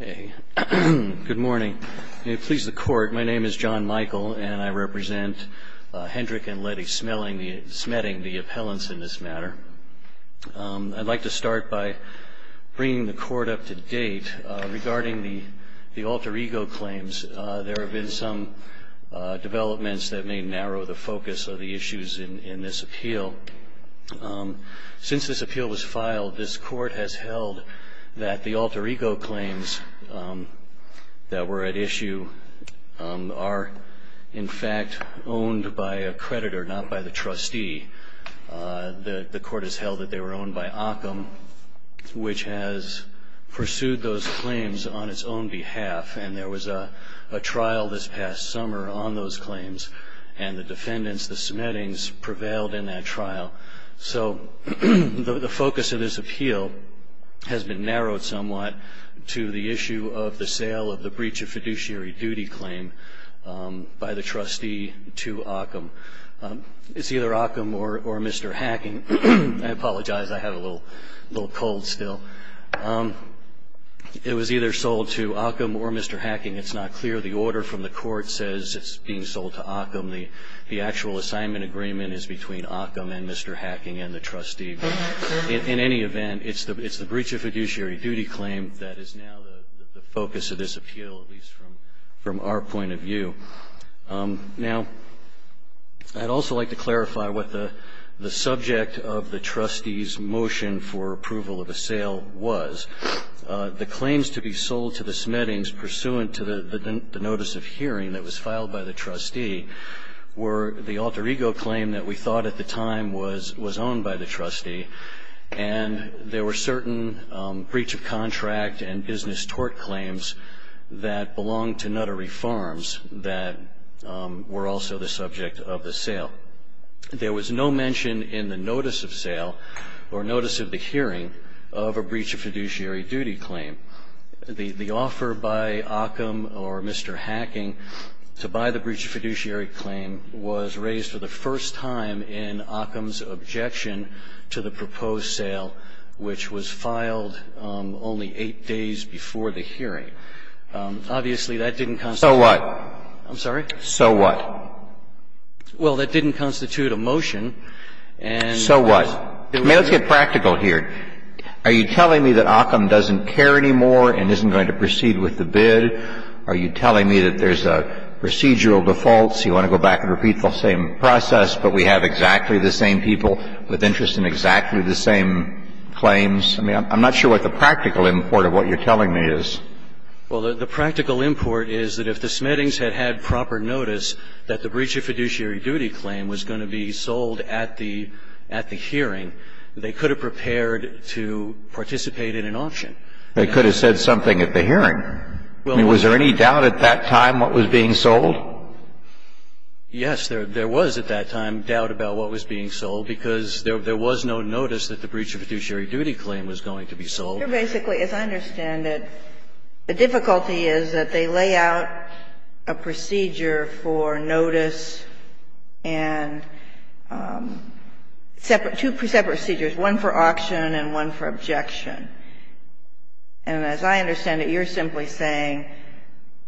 Good morning. May it please the Court, my name is John Michael and I represent Hendrick and Lettie Smeding, the appellants in this matter. I'd like to start by bringing the Court up to date regarding the alter ego claims. There have been some developments that may narrow the focus of the issues in this appeal. Since this appeal was filed, this Court has held that the alter ego claims that were at issue are in fact owned by a creditor, not by the trustee. The Court has held that they were owned by Ahcom, which has pursued those claims on its own behalf. And there was a trial this past summer on those claims. And the defendants, the Smedings, prevailed in that trial. So the focus of this appeal has been narrowed somewhat to the issue of the sale of the breach of fiduciary duty claim by the trustee to Ahcom. It's either Ahcom or Mr. Hacking. I apologize, I have a little cold still. It was either sold to Ahcom or Mr. Hacking. It's not clear. The order from the Court says it's being sold to Ahcom. The actual assignment agreement is between Ahcom and Mr. Hacking and the trustee. In any event, it's the breach of fiduciary duty claim that is now the focus of this appeal, at least from our point of view. Now, I'd also like to clarify what the subject of the trustee's motion for approval of the sale was. The claims to be sold to the Smedings, pursuant to the notice of hearing that was filed by the trustee, were the alter ego claim that we thought at the time was owned by the trustee. And there were certain breach of contract and business tort claims that belonged to Nuttery Farms that were also the subject of the sale. There was no mention in the notice of sale or notice of the hearing of a breach of fiduciary duty claim. The offer by Ahcom or Mr. Hacking to buy the breach of fiduciary claim was raised for the first time in Ahcom's objection to the proposed sale, which was filed only eight days before the hearing. Obviously, that didn't constitute. So what? I'm sorry? So what? Well, that didn't constitute a motion. So what? I mean, let's get practical here. Are you telling me that Ahcom doesn't care anymore and isn't going to proceed with the bid? Are you telling me that there's a procedural default, so you want to go back and repeat the same process, but we have exactly the same people with interest in exactly the same claims? I mean, I'm not sure what the practical import of what you're telling me is. Well, the practical import is that if the Smettings had had proper notice that the breach of fiduciary duty claim was going to be sold at the hearing, they could have prepared to participate in an auction. They could have said something at the hearing. I mean, was there any doubt at that time what was being sold? Yes, there was at that time doubt about what was being sold because there was no notice that the breach of fiduciary duty claim was going to be sold. You're basically, as I understand it, the difficulty is that they lay out a procedure for notice and two separate procedures, one for auction and one for objection. And as I understand it, you're simply saying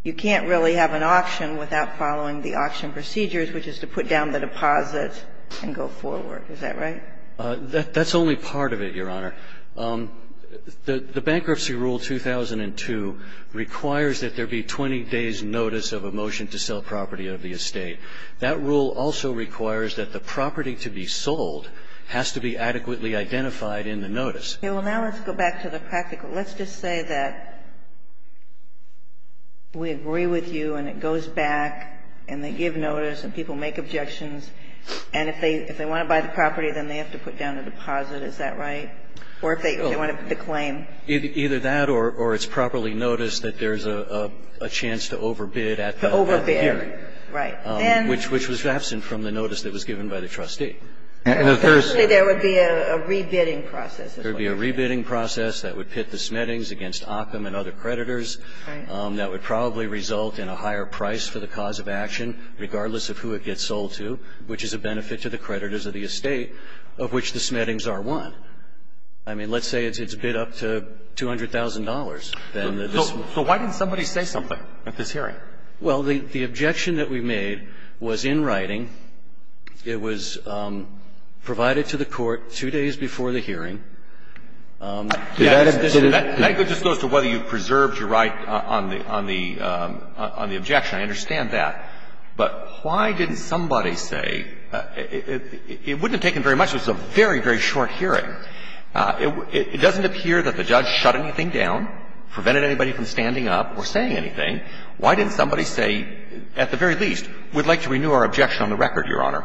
you can't really have an auction without following the auction procedures, which is to put down the deposit and go forward. Is that right? That's only part of it, Your Honor. The Bankruptcy Rule 2002 requires that there be 20 days' notice of a motion to sell property of the estate. That rule also requires that the property to be sold has to be adequately identified in the notice. Okay. Well, now let's go back to the practical. Let's just say that we agree with you and it goes back and they give notice and people make objections. And if they want to buy the property, then they have to put down a deposit. Is that right? Or if they want to put the claim? Either that or it's properly noticed that there's a chance to overbid at the hearing. To overbid. Right. Which was absent from the notice that was given by the trustee. Actually, there would be a rebidding process. There would be a rebidding process that would pit the Smettings against Ockham and other creditors. Right. That would probably result in a higher price for the cause of action, regardless of who it gets sold to, which is a benefit to the creditors of the estate of which the Smettings are won. I mean, let's say it's bid up to $200,000. So why didn't somebody say something at this hearing? Well, the objection that we made was in writing. It was provided to the Court two days before the hearing. Yes. That goes to whether you preserved your right on the objection. I understand that. But why didn't somebody say? It wouldn't have taken very much. It was a very, very short hearing. It doesn't appear that the judge shut anything down, prevented anybody from standing up or saying anything. Why didn't somebody say, at the very least, we'd like to renew our objection on the record, Your Honor?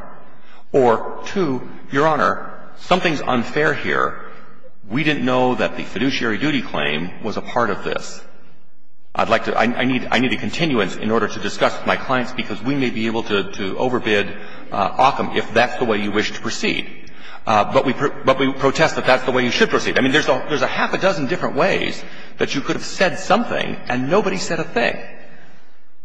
Or, two, Your Honor, something's unfair here. We didn't know that the fiduciary duty claim was a part of this. I'd like to – I need a continuance in order to discuss with my clients, because we may be able to overbid Ockham if that's the way you wish to proceed. But we protest that that's the way you should proceed. I mean, there's a half a dozen different ways that you could have said something and nobody said a thing.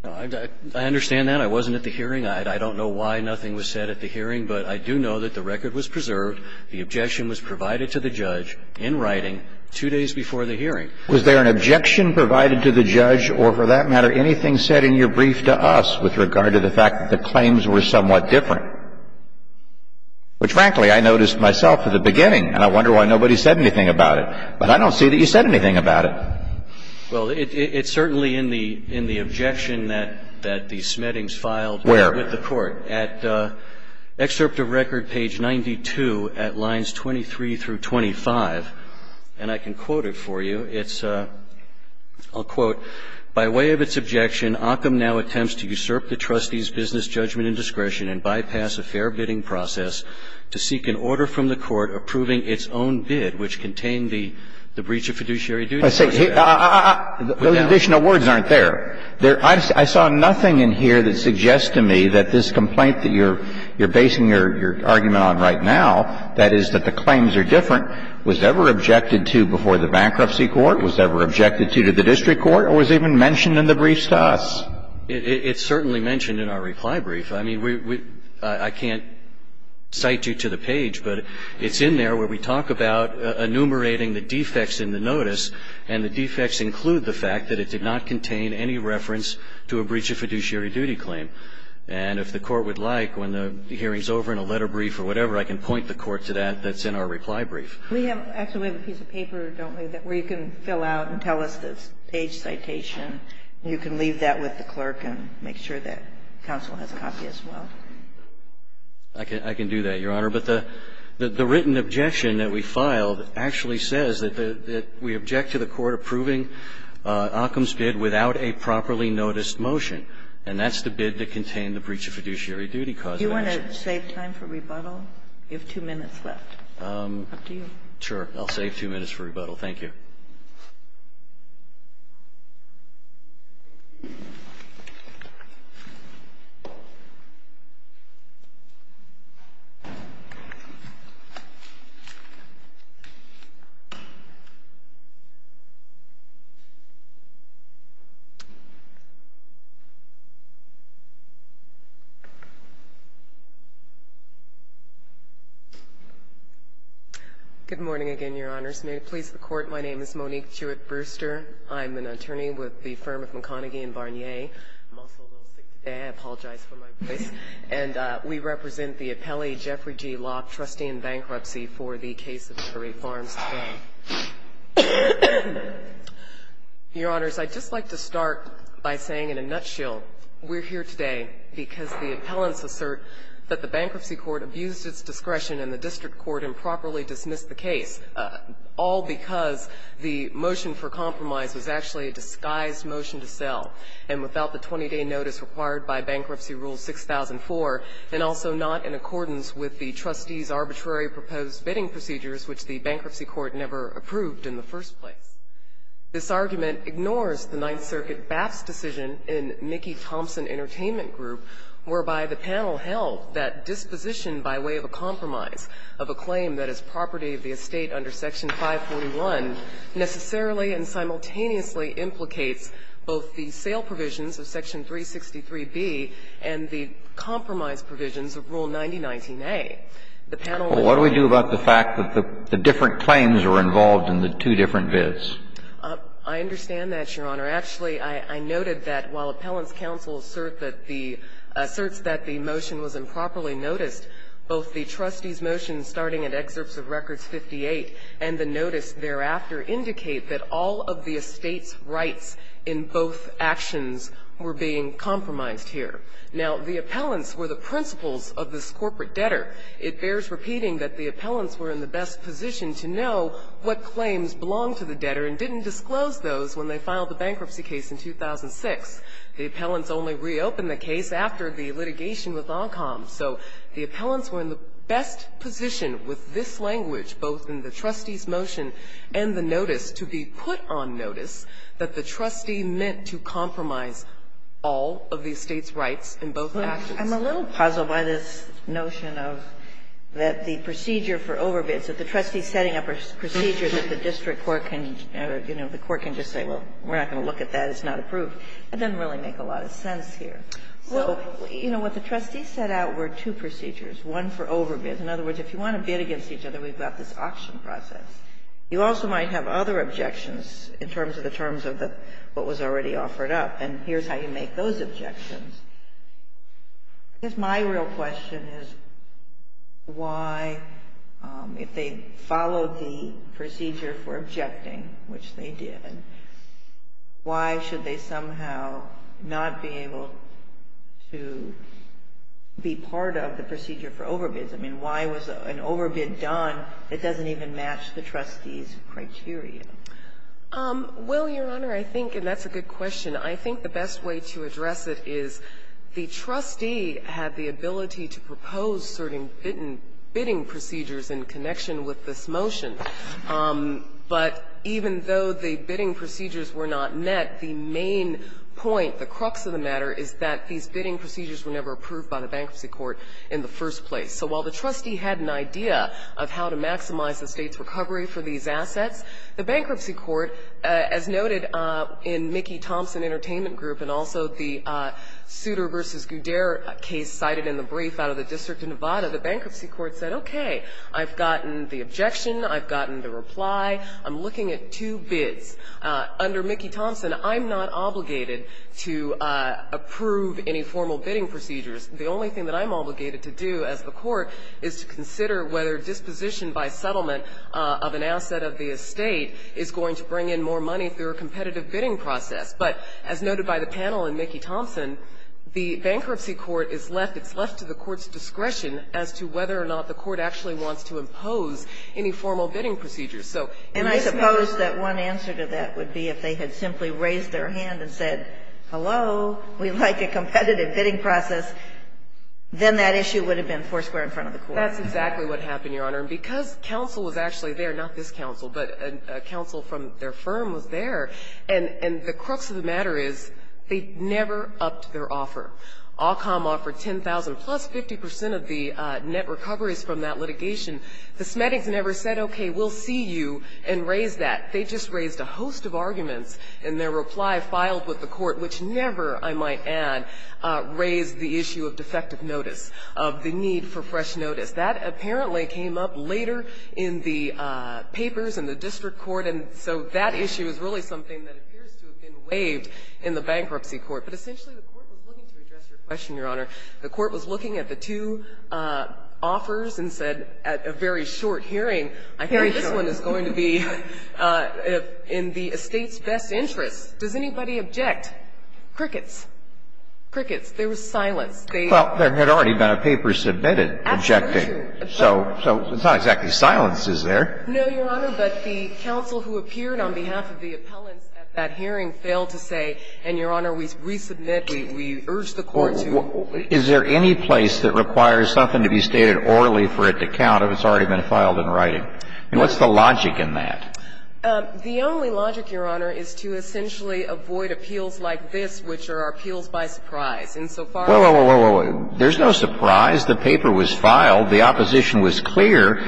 I understand that. I wasn't at the hearing. I don't know why nothing was said at the hearing, but I do know that the record was preserved, the objection was provided to the judge in writing two days before the hearing. Was there an objection provided to the judge or, for that matter, anything said in your brief to us with regard to the fact that the claims were somewhat different? Which, frankly, I noticed myself at the beginning, and I wonder why nobody said anything about it. But I don't see that you said anything about it. Well, it's certainly in the objection that the Smettings filed with the court. Where? At excerpt of record page 92 at lines 23 through 25. And I can quote it for you. It's – I'll quote. By way of its objection, Ockham now attempts to usurp the trustee's business judgment and discretion and bypass a fair bidding process to seek an order from the court approving its own bid, which contained the breach of fiduciary duties. at the time that the claim was different. And the objection, if I may say, the additional words aren't there. I saw nothing in here that suggests to me that this complaint that you're basing your argument on right now, that is, that the claims are different, was ever objected to before the bankruptcy court, was ever objected to to the district court, or was even mentioned in the briefs to us. And the defects include the fact that it did not contain any reference to a breach of fiduciary duty claim. And if the Court would like, when the hearing is over in a letter brief or whatever, I can point the Court to that that's in our reply brief. We have actually a piece of paper, don't we, where you can fill out and tell us the page citation. You can leave that with the clerk and make sure that counsel has a copy as well. I can do that, Your Honor. But the written objection that we filed actually says that we object to the Court approving Occom's bid without a properly noticed motion. And that's the bid that contained the breach of fiduciary duty cause of action. Do you want to save time for rebuttal? You have two minutes left. Up to you. Sure. I'll save two minutes for rebuttal. Thank you. Thank you. Good morning again, Your Honors. May it please the Court, my name is Monique Jewett Brewster. I'm an attorney with the firm of McConaghy and Barnier. I'm also a little sick today. I apologize for my voice. And we represent the appellee Jeffrey G. Locke, trustee in bankruptcy for the case of Curry Farms today. Your Honors, I'd just like to start by saying in a nutshell, we're here today because the appellants assert that the Bankruptcy Court abused its discretion and the District Court improperly dismissed the case, all because the motion for compromise was actually a disguised motion to sell. And without the 20-day notice required by Bankruptcy Rule 6004, and also not in accordance with the trustees' arbitrary proposed bidding procedures, which the Bankruptcy Court never approved in the first place. This argument ignores the Ninth Circuit BAF's decision in Mickey Thompson Entertainment Group, whereby the panel held that disposition by way of a compromise of a claim that property of the estate under Section 541 necessarily and simultaneously implicates both the sale provisions of Section 363B and the compromise provisions of Rule 9019A. The panel was. Kennedy. Well, what do we do about the fact that the different claims were involved in the two different bids? I understand that, Your Honor. Actually, I noted that while appellants counsel assert that the asserts that the motion was improperly noticed, both the trustees' motion starting at excerpts of records 58 and the notice thereafter indicate that all of the estate's rights in both actions were being compromised here. Now, the appellants were the principals of this corporate debtor. It bears repeating that the appellants were in the best position to know what claims belonged to the debtor and didn't disclose those when they filed the bankruptcy case in 2006. The appellants only reopened the case after the litigation with ONCOM. So the appellants were in the best position with this language, both in the trustees' motion and the notice, to be put on notice that the trustee meant to compromise all of the estate's rights in both actions. I'm a little puzzled by this notion of that the procedure for overbids, that the trustees setting up a procedure that the district court can, you know, the court can just say, well, we're not going to look at that. It's not approved. It doesn't really make a lot of sense here. So, you know, what the trustees set out were two procedures, one for overbids. In other words, if you want to bid against each other, we've got this auction process. You also might have other objections in terms of the terms of what was already offered up, and here's how you make those objections. I guess my real question is why, if they followed the procedure for objecting, which they did, why should they somehow not be able to be part of the procedure for overbids? I mean, why was an overbid done that doesn't even match the trustees' criteria? Well, Your Honor, I think, and that's a good question, I think the best way to address it is the trustee had the ability to propose certain bidding procedures in connection with this motion. But even though the bidding procedures were not met, the main point, the crux of the matter, is that these bidding procedures were never approved by the bankruptcy court in the first place. So while the trustee had an idea of how to maximize the state's recovery for these assets, the bankruptcy court, as noted in Mickey Thompson Entertainment Group and also the Souter v. Goudert case cited in the brief out of the District of Nevada, the bankruptcy court said, okay, I've gotten the objection. I've gotten the reply. I'm looking at two bids. Under Mickey Thompson, I'm not obligated to approve any formal bidding procedures. The only thing that I'm obligated to do as the court is to consider whether disposition by settlement of an asset of the estate is going to bring in more money through a competitive bidding process. But as noted by the panel in Mickey Thompson, the bankruptcy court is left, it's left to the court's discretion as to whether or not the court actually wants to impose any formal bidding procedures. So in this case the question is. And I suppose that one answer to that would be if they had simply raised their hand and said, hello, we'd like a competitive bidding process, then that issue would have been foursquare in front of the court. That's exactly what happened, Your Honor. And because counsel was actually there, not this counsel, but a counsel from their firm was there, and the crux of the matter is they never upped their offer. AWCOM offered $10,000, plus 50 percent of the net recoveries from that litigation. The Smedics never said, okay, we'll see you, and raised that. They just raised a host of arguments, and their reply filed with the court, which never, I might add, raised the issue of defective notice, of the need for fresh notice. That apparently came up later in the papers in the district court, and so that issue is really something that appears to have been waived in the bankruptcy court. But essentially, the court was looking to address your question, Your Honor. The court was looking at the two offers and said, at a very short hearing, I think this one is going to be in the estate's best interest. Does anybody object? Crickets. Crickets. There was silence. They ---- Well, there had already been a paper submitted objecting. Absolutely. So it's not exactly silence, is there? No, Your Honor, but the counsel who appeared on behalf of the appellants at that hearing failed to say, and, Your Honor, we resubmit, we urge the court to ---- Well, is there any place that requires something to be stated orally for it to count if it's already been filed in writing? I mean, what's the logic in that? The only logic, Your Honor, is to essentially avoid appeals like this, which are appeals by surprise, insofar as ---- Whoa, whoa, whoa. There's no surprise. The paper was filed. The opposition was clear.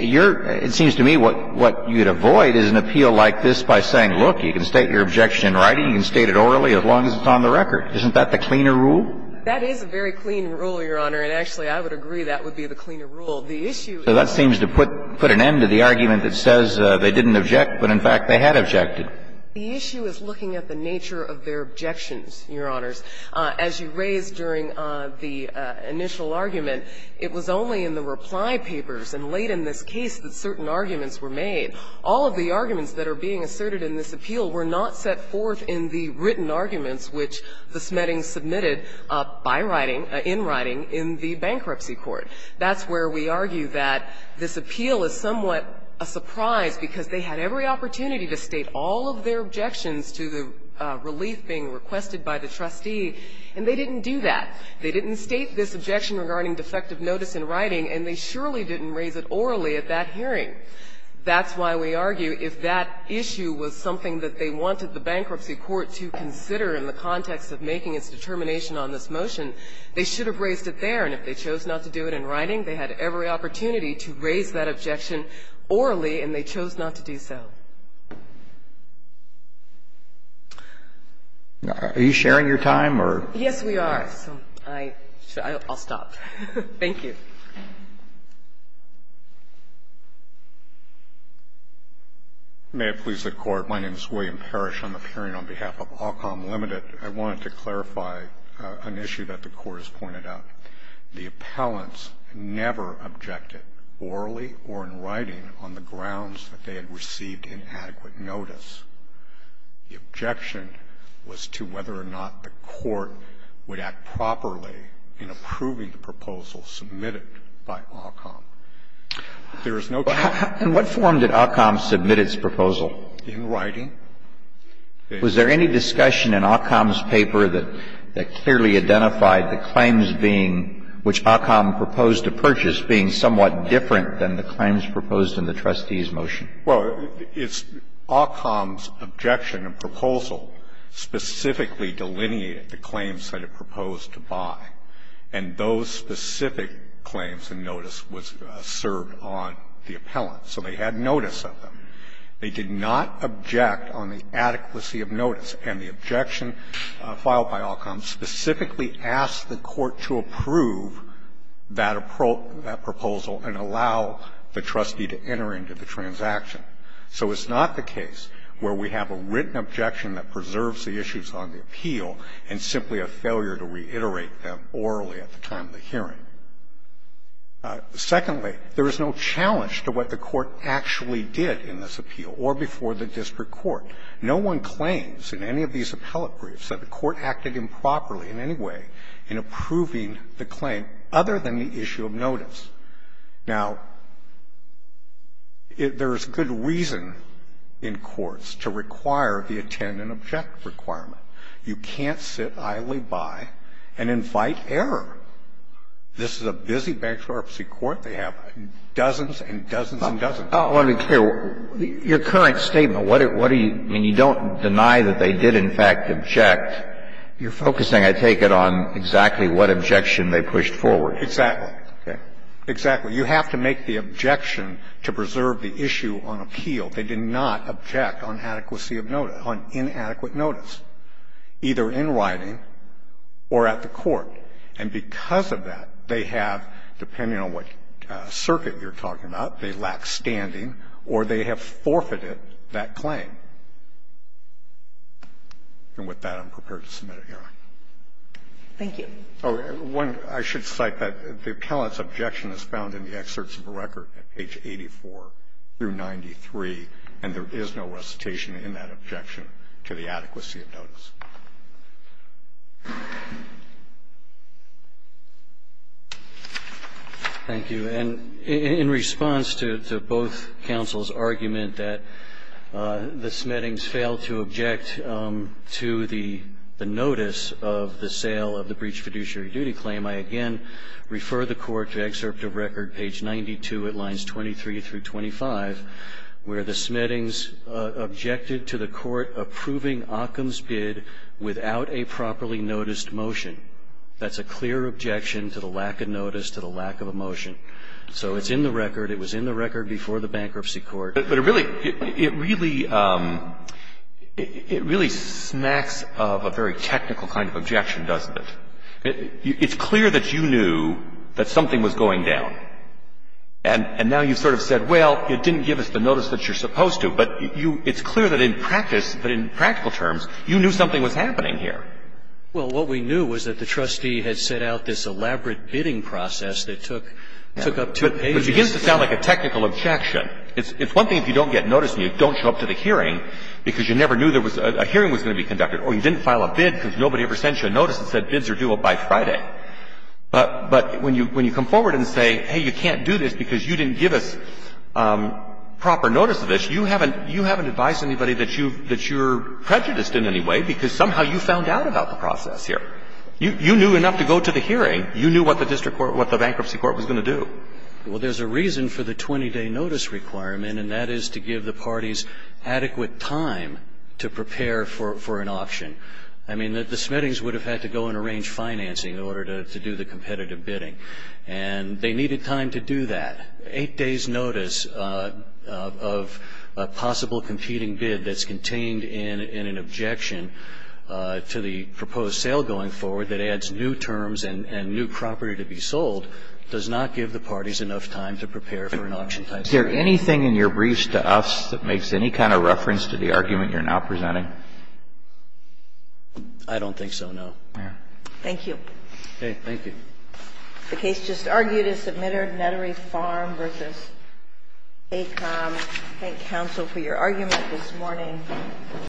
Your ---- it seems to me what you'd avoid is an appeal like this by saying, look, you can state your objection in writing. You can state it orally as long as it's on the record. Isn't that the cleaner rule? That is a very clean rule, Your Honor, and actually, I would agree that would be the cleaner rule. The issue is ---- So that seems to put an end to the argument that says they didn't object, but in fact they had objected. The issue is looking at the nature of their objections, Your Honors. As you raised during the initial argument, it was only in the reply papers and late in this case that certain arguments were made. All of the arguments that are being asserted in this appeal were not set forth in the written arguments which the Smettings submitted by writing, in writing, in the bankruptcy court. That's where we argue that this appeal is somewhat a surprise because they had every opportunity to state all of their objections to the relief being requested by the trustee, and they didn't do that. They didn't state this objection regarding defective notice in writing, and they surely didn't raise it orally at that hearing. That's why we argue if that issue was something that they wanted the bankruptcy court to consider in the context of making its determination on this motion, they should have raised it there, and if they chose not to do it in writing, they had every opportunity to raise that objection orally, and they chose not to do so. Are you sharing your time or? Yes, we are. I'll stop. Thank you. Williams. May it please the Court. My name is William Parrish. On the hearing on behalf of Alcom Limited, I wanted to clarify an issue that the Court has pointed out. The appellants never objected orally or in writing on the grounds that they had received inadequate notice. The objection was to whether or not the Court would act properly in approving the proposal submitted by Alcom. There is no charge. In what form did Alcom submit its proposal? In writing. Was there any discussion in Alcom's paper that clearly identified the claims being which Alcom proposed to purchase being somewhat different than the claims proposed in the trustee's motion? Well, Alcom's objection and proposal specifically delineated the claims that it proposed to buy, and those specific claims and notice was served on the appellant. So they had notice of them. They did not object on the adequacy of notice. And the objection filed by Alcom specifically asked the Court to approve that proposal and allow the trustee to enter into the transaction. So it's not the case where we have a written objection that preserves the issues on the appeal and simply a failure to reiterate them orally at the time of the hearing. Secondly, there is no challenge to what the Court actually did in this appeal or before the district court. No one claims in any of these appellate briefs that the Court acted improperly in any way in approving the claim other than the issue of notice. Now, there is good reason in courts to require the attend and object requirement. You can't sit idly by and invite error. This is a busy bankruptcy court. They have dozens and dozens and dozens. I want to be clear. Your current statement, what are you – I mean, you don't deny that they did, in fact, object. You're focusing, I take it, on exactly what objection they pushed forward. Exactly. Exactly. You have to make the objection to preserve the issue on appeal. They did not object on adequacy of notice, on inadequate notice, either in writing or at the court. And because of that, they have, depending on what circuit you're talking about, they lack standing or they have forfeited that claim. And with that, I'm prepared to submit it, Your Honor. Thank you. Oh, one – I should cite that the appellant's objection is found in the excerpts of the record at page 84 through 93, and there is no recitation in that objection to the adequacy of notice. Thank you. And in response to both counsel's argument that the Smettings failed to object to the notice of the sale of the breach fiduciary duty claim, I again refer the court to excerpt of record page 92 at lines 23 through 25, where the Smettings objected to the court approving Occam's bid without a properly noticed motion. That's a clear objection to the lack of notice, to the lack of a motion. So it's in the record. It was in the record before the bankruptcy court. But it really – it really – it really snacks of a very technical kind of objection, doesn't it? It's clear that you knew that something was going down. And now you've sort of said, well, it didn't give us the notice that you're supposed to. But you – it's clear that in practice, that in practical terms, you knew something was happening here. Well, what we knew was that the trustee had set out this elaborate bidding process that took up two pages. It begins to sound like a technical objection. It's one thing if you don't get notice and you don't show up to the hearing because you never knew there was – a hearing was going to be conducted, or you didn't file a bid because nobody ever sent you a notice that said bids are due up by Friday. But when you come forward and say, hey, you can't do this because you didn't give us proper notice of this, you haven't – you haven't advised anybody that you've – that you're prejudiced in any way because somehow you found out about the process here. You knew enough to go to the hearing. You knew what the district court – what the bankruptcy court was going to do. Well, there's a reason for the 20-day notice requirement, and that is to give the parties adequate time to prepare for an option. I mean, the Smittings would have had to go and arrange financing in order to do the competitive bidding. And they needed time to do that. Eight days' notice of a possible competing bid that's contained in an objection to the proposed sale going forward that adds new terms and new property to be sold does not give the parties enough time to prepare for an option. Is there anything in your briefs to us that makes any kind of reference to the argument you're now presenting? I don't think so, no. Thank you. Okay. Thank you. The case just argued is Submitter Nettery Farm v. ACOM. Thank you, counsel, for your argument this morning.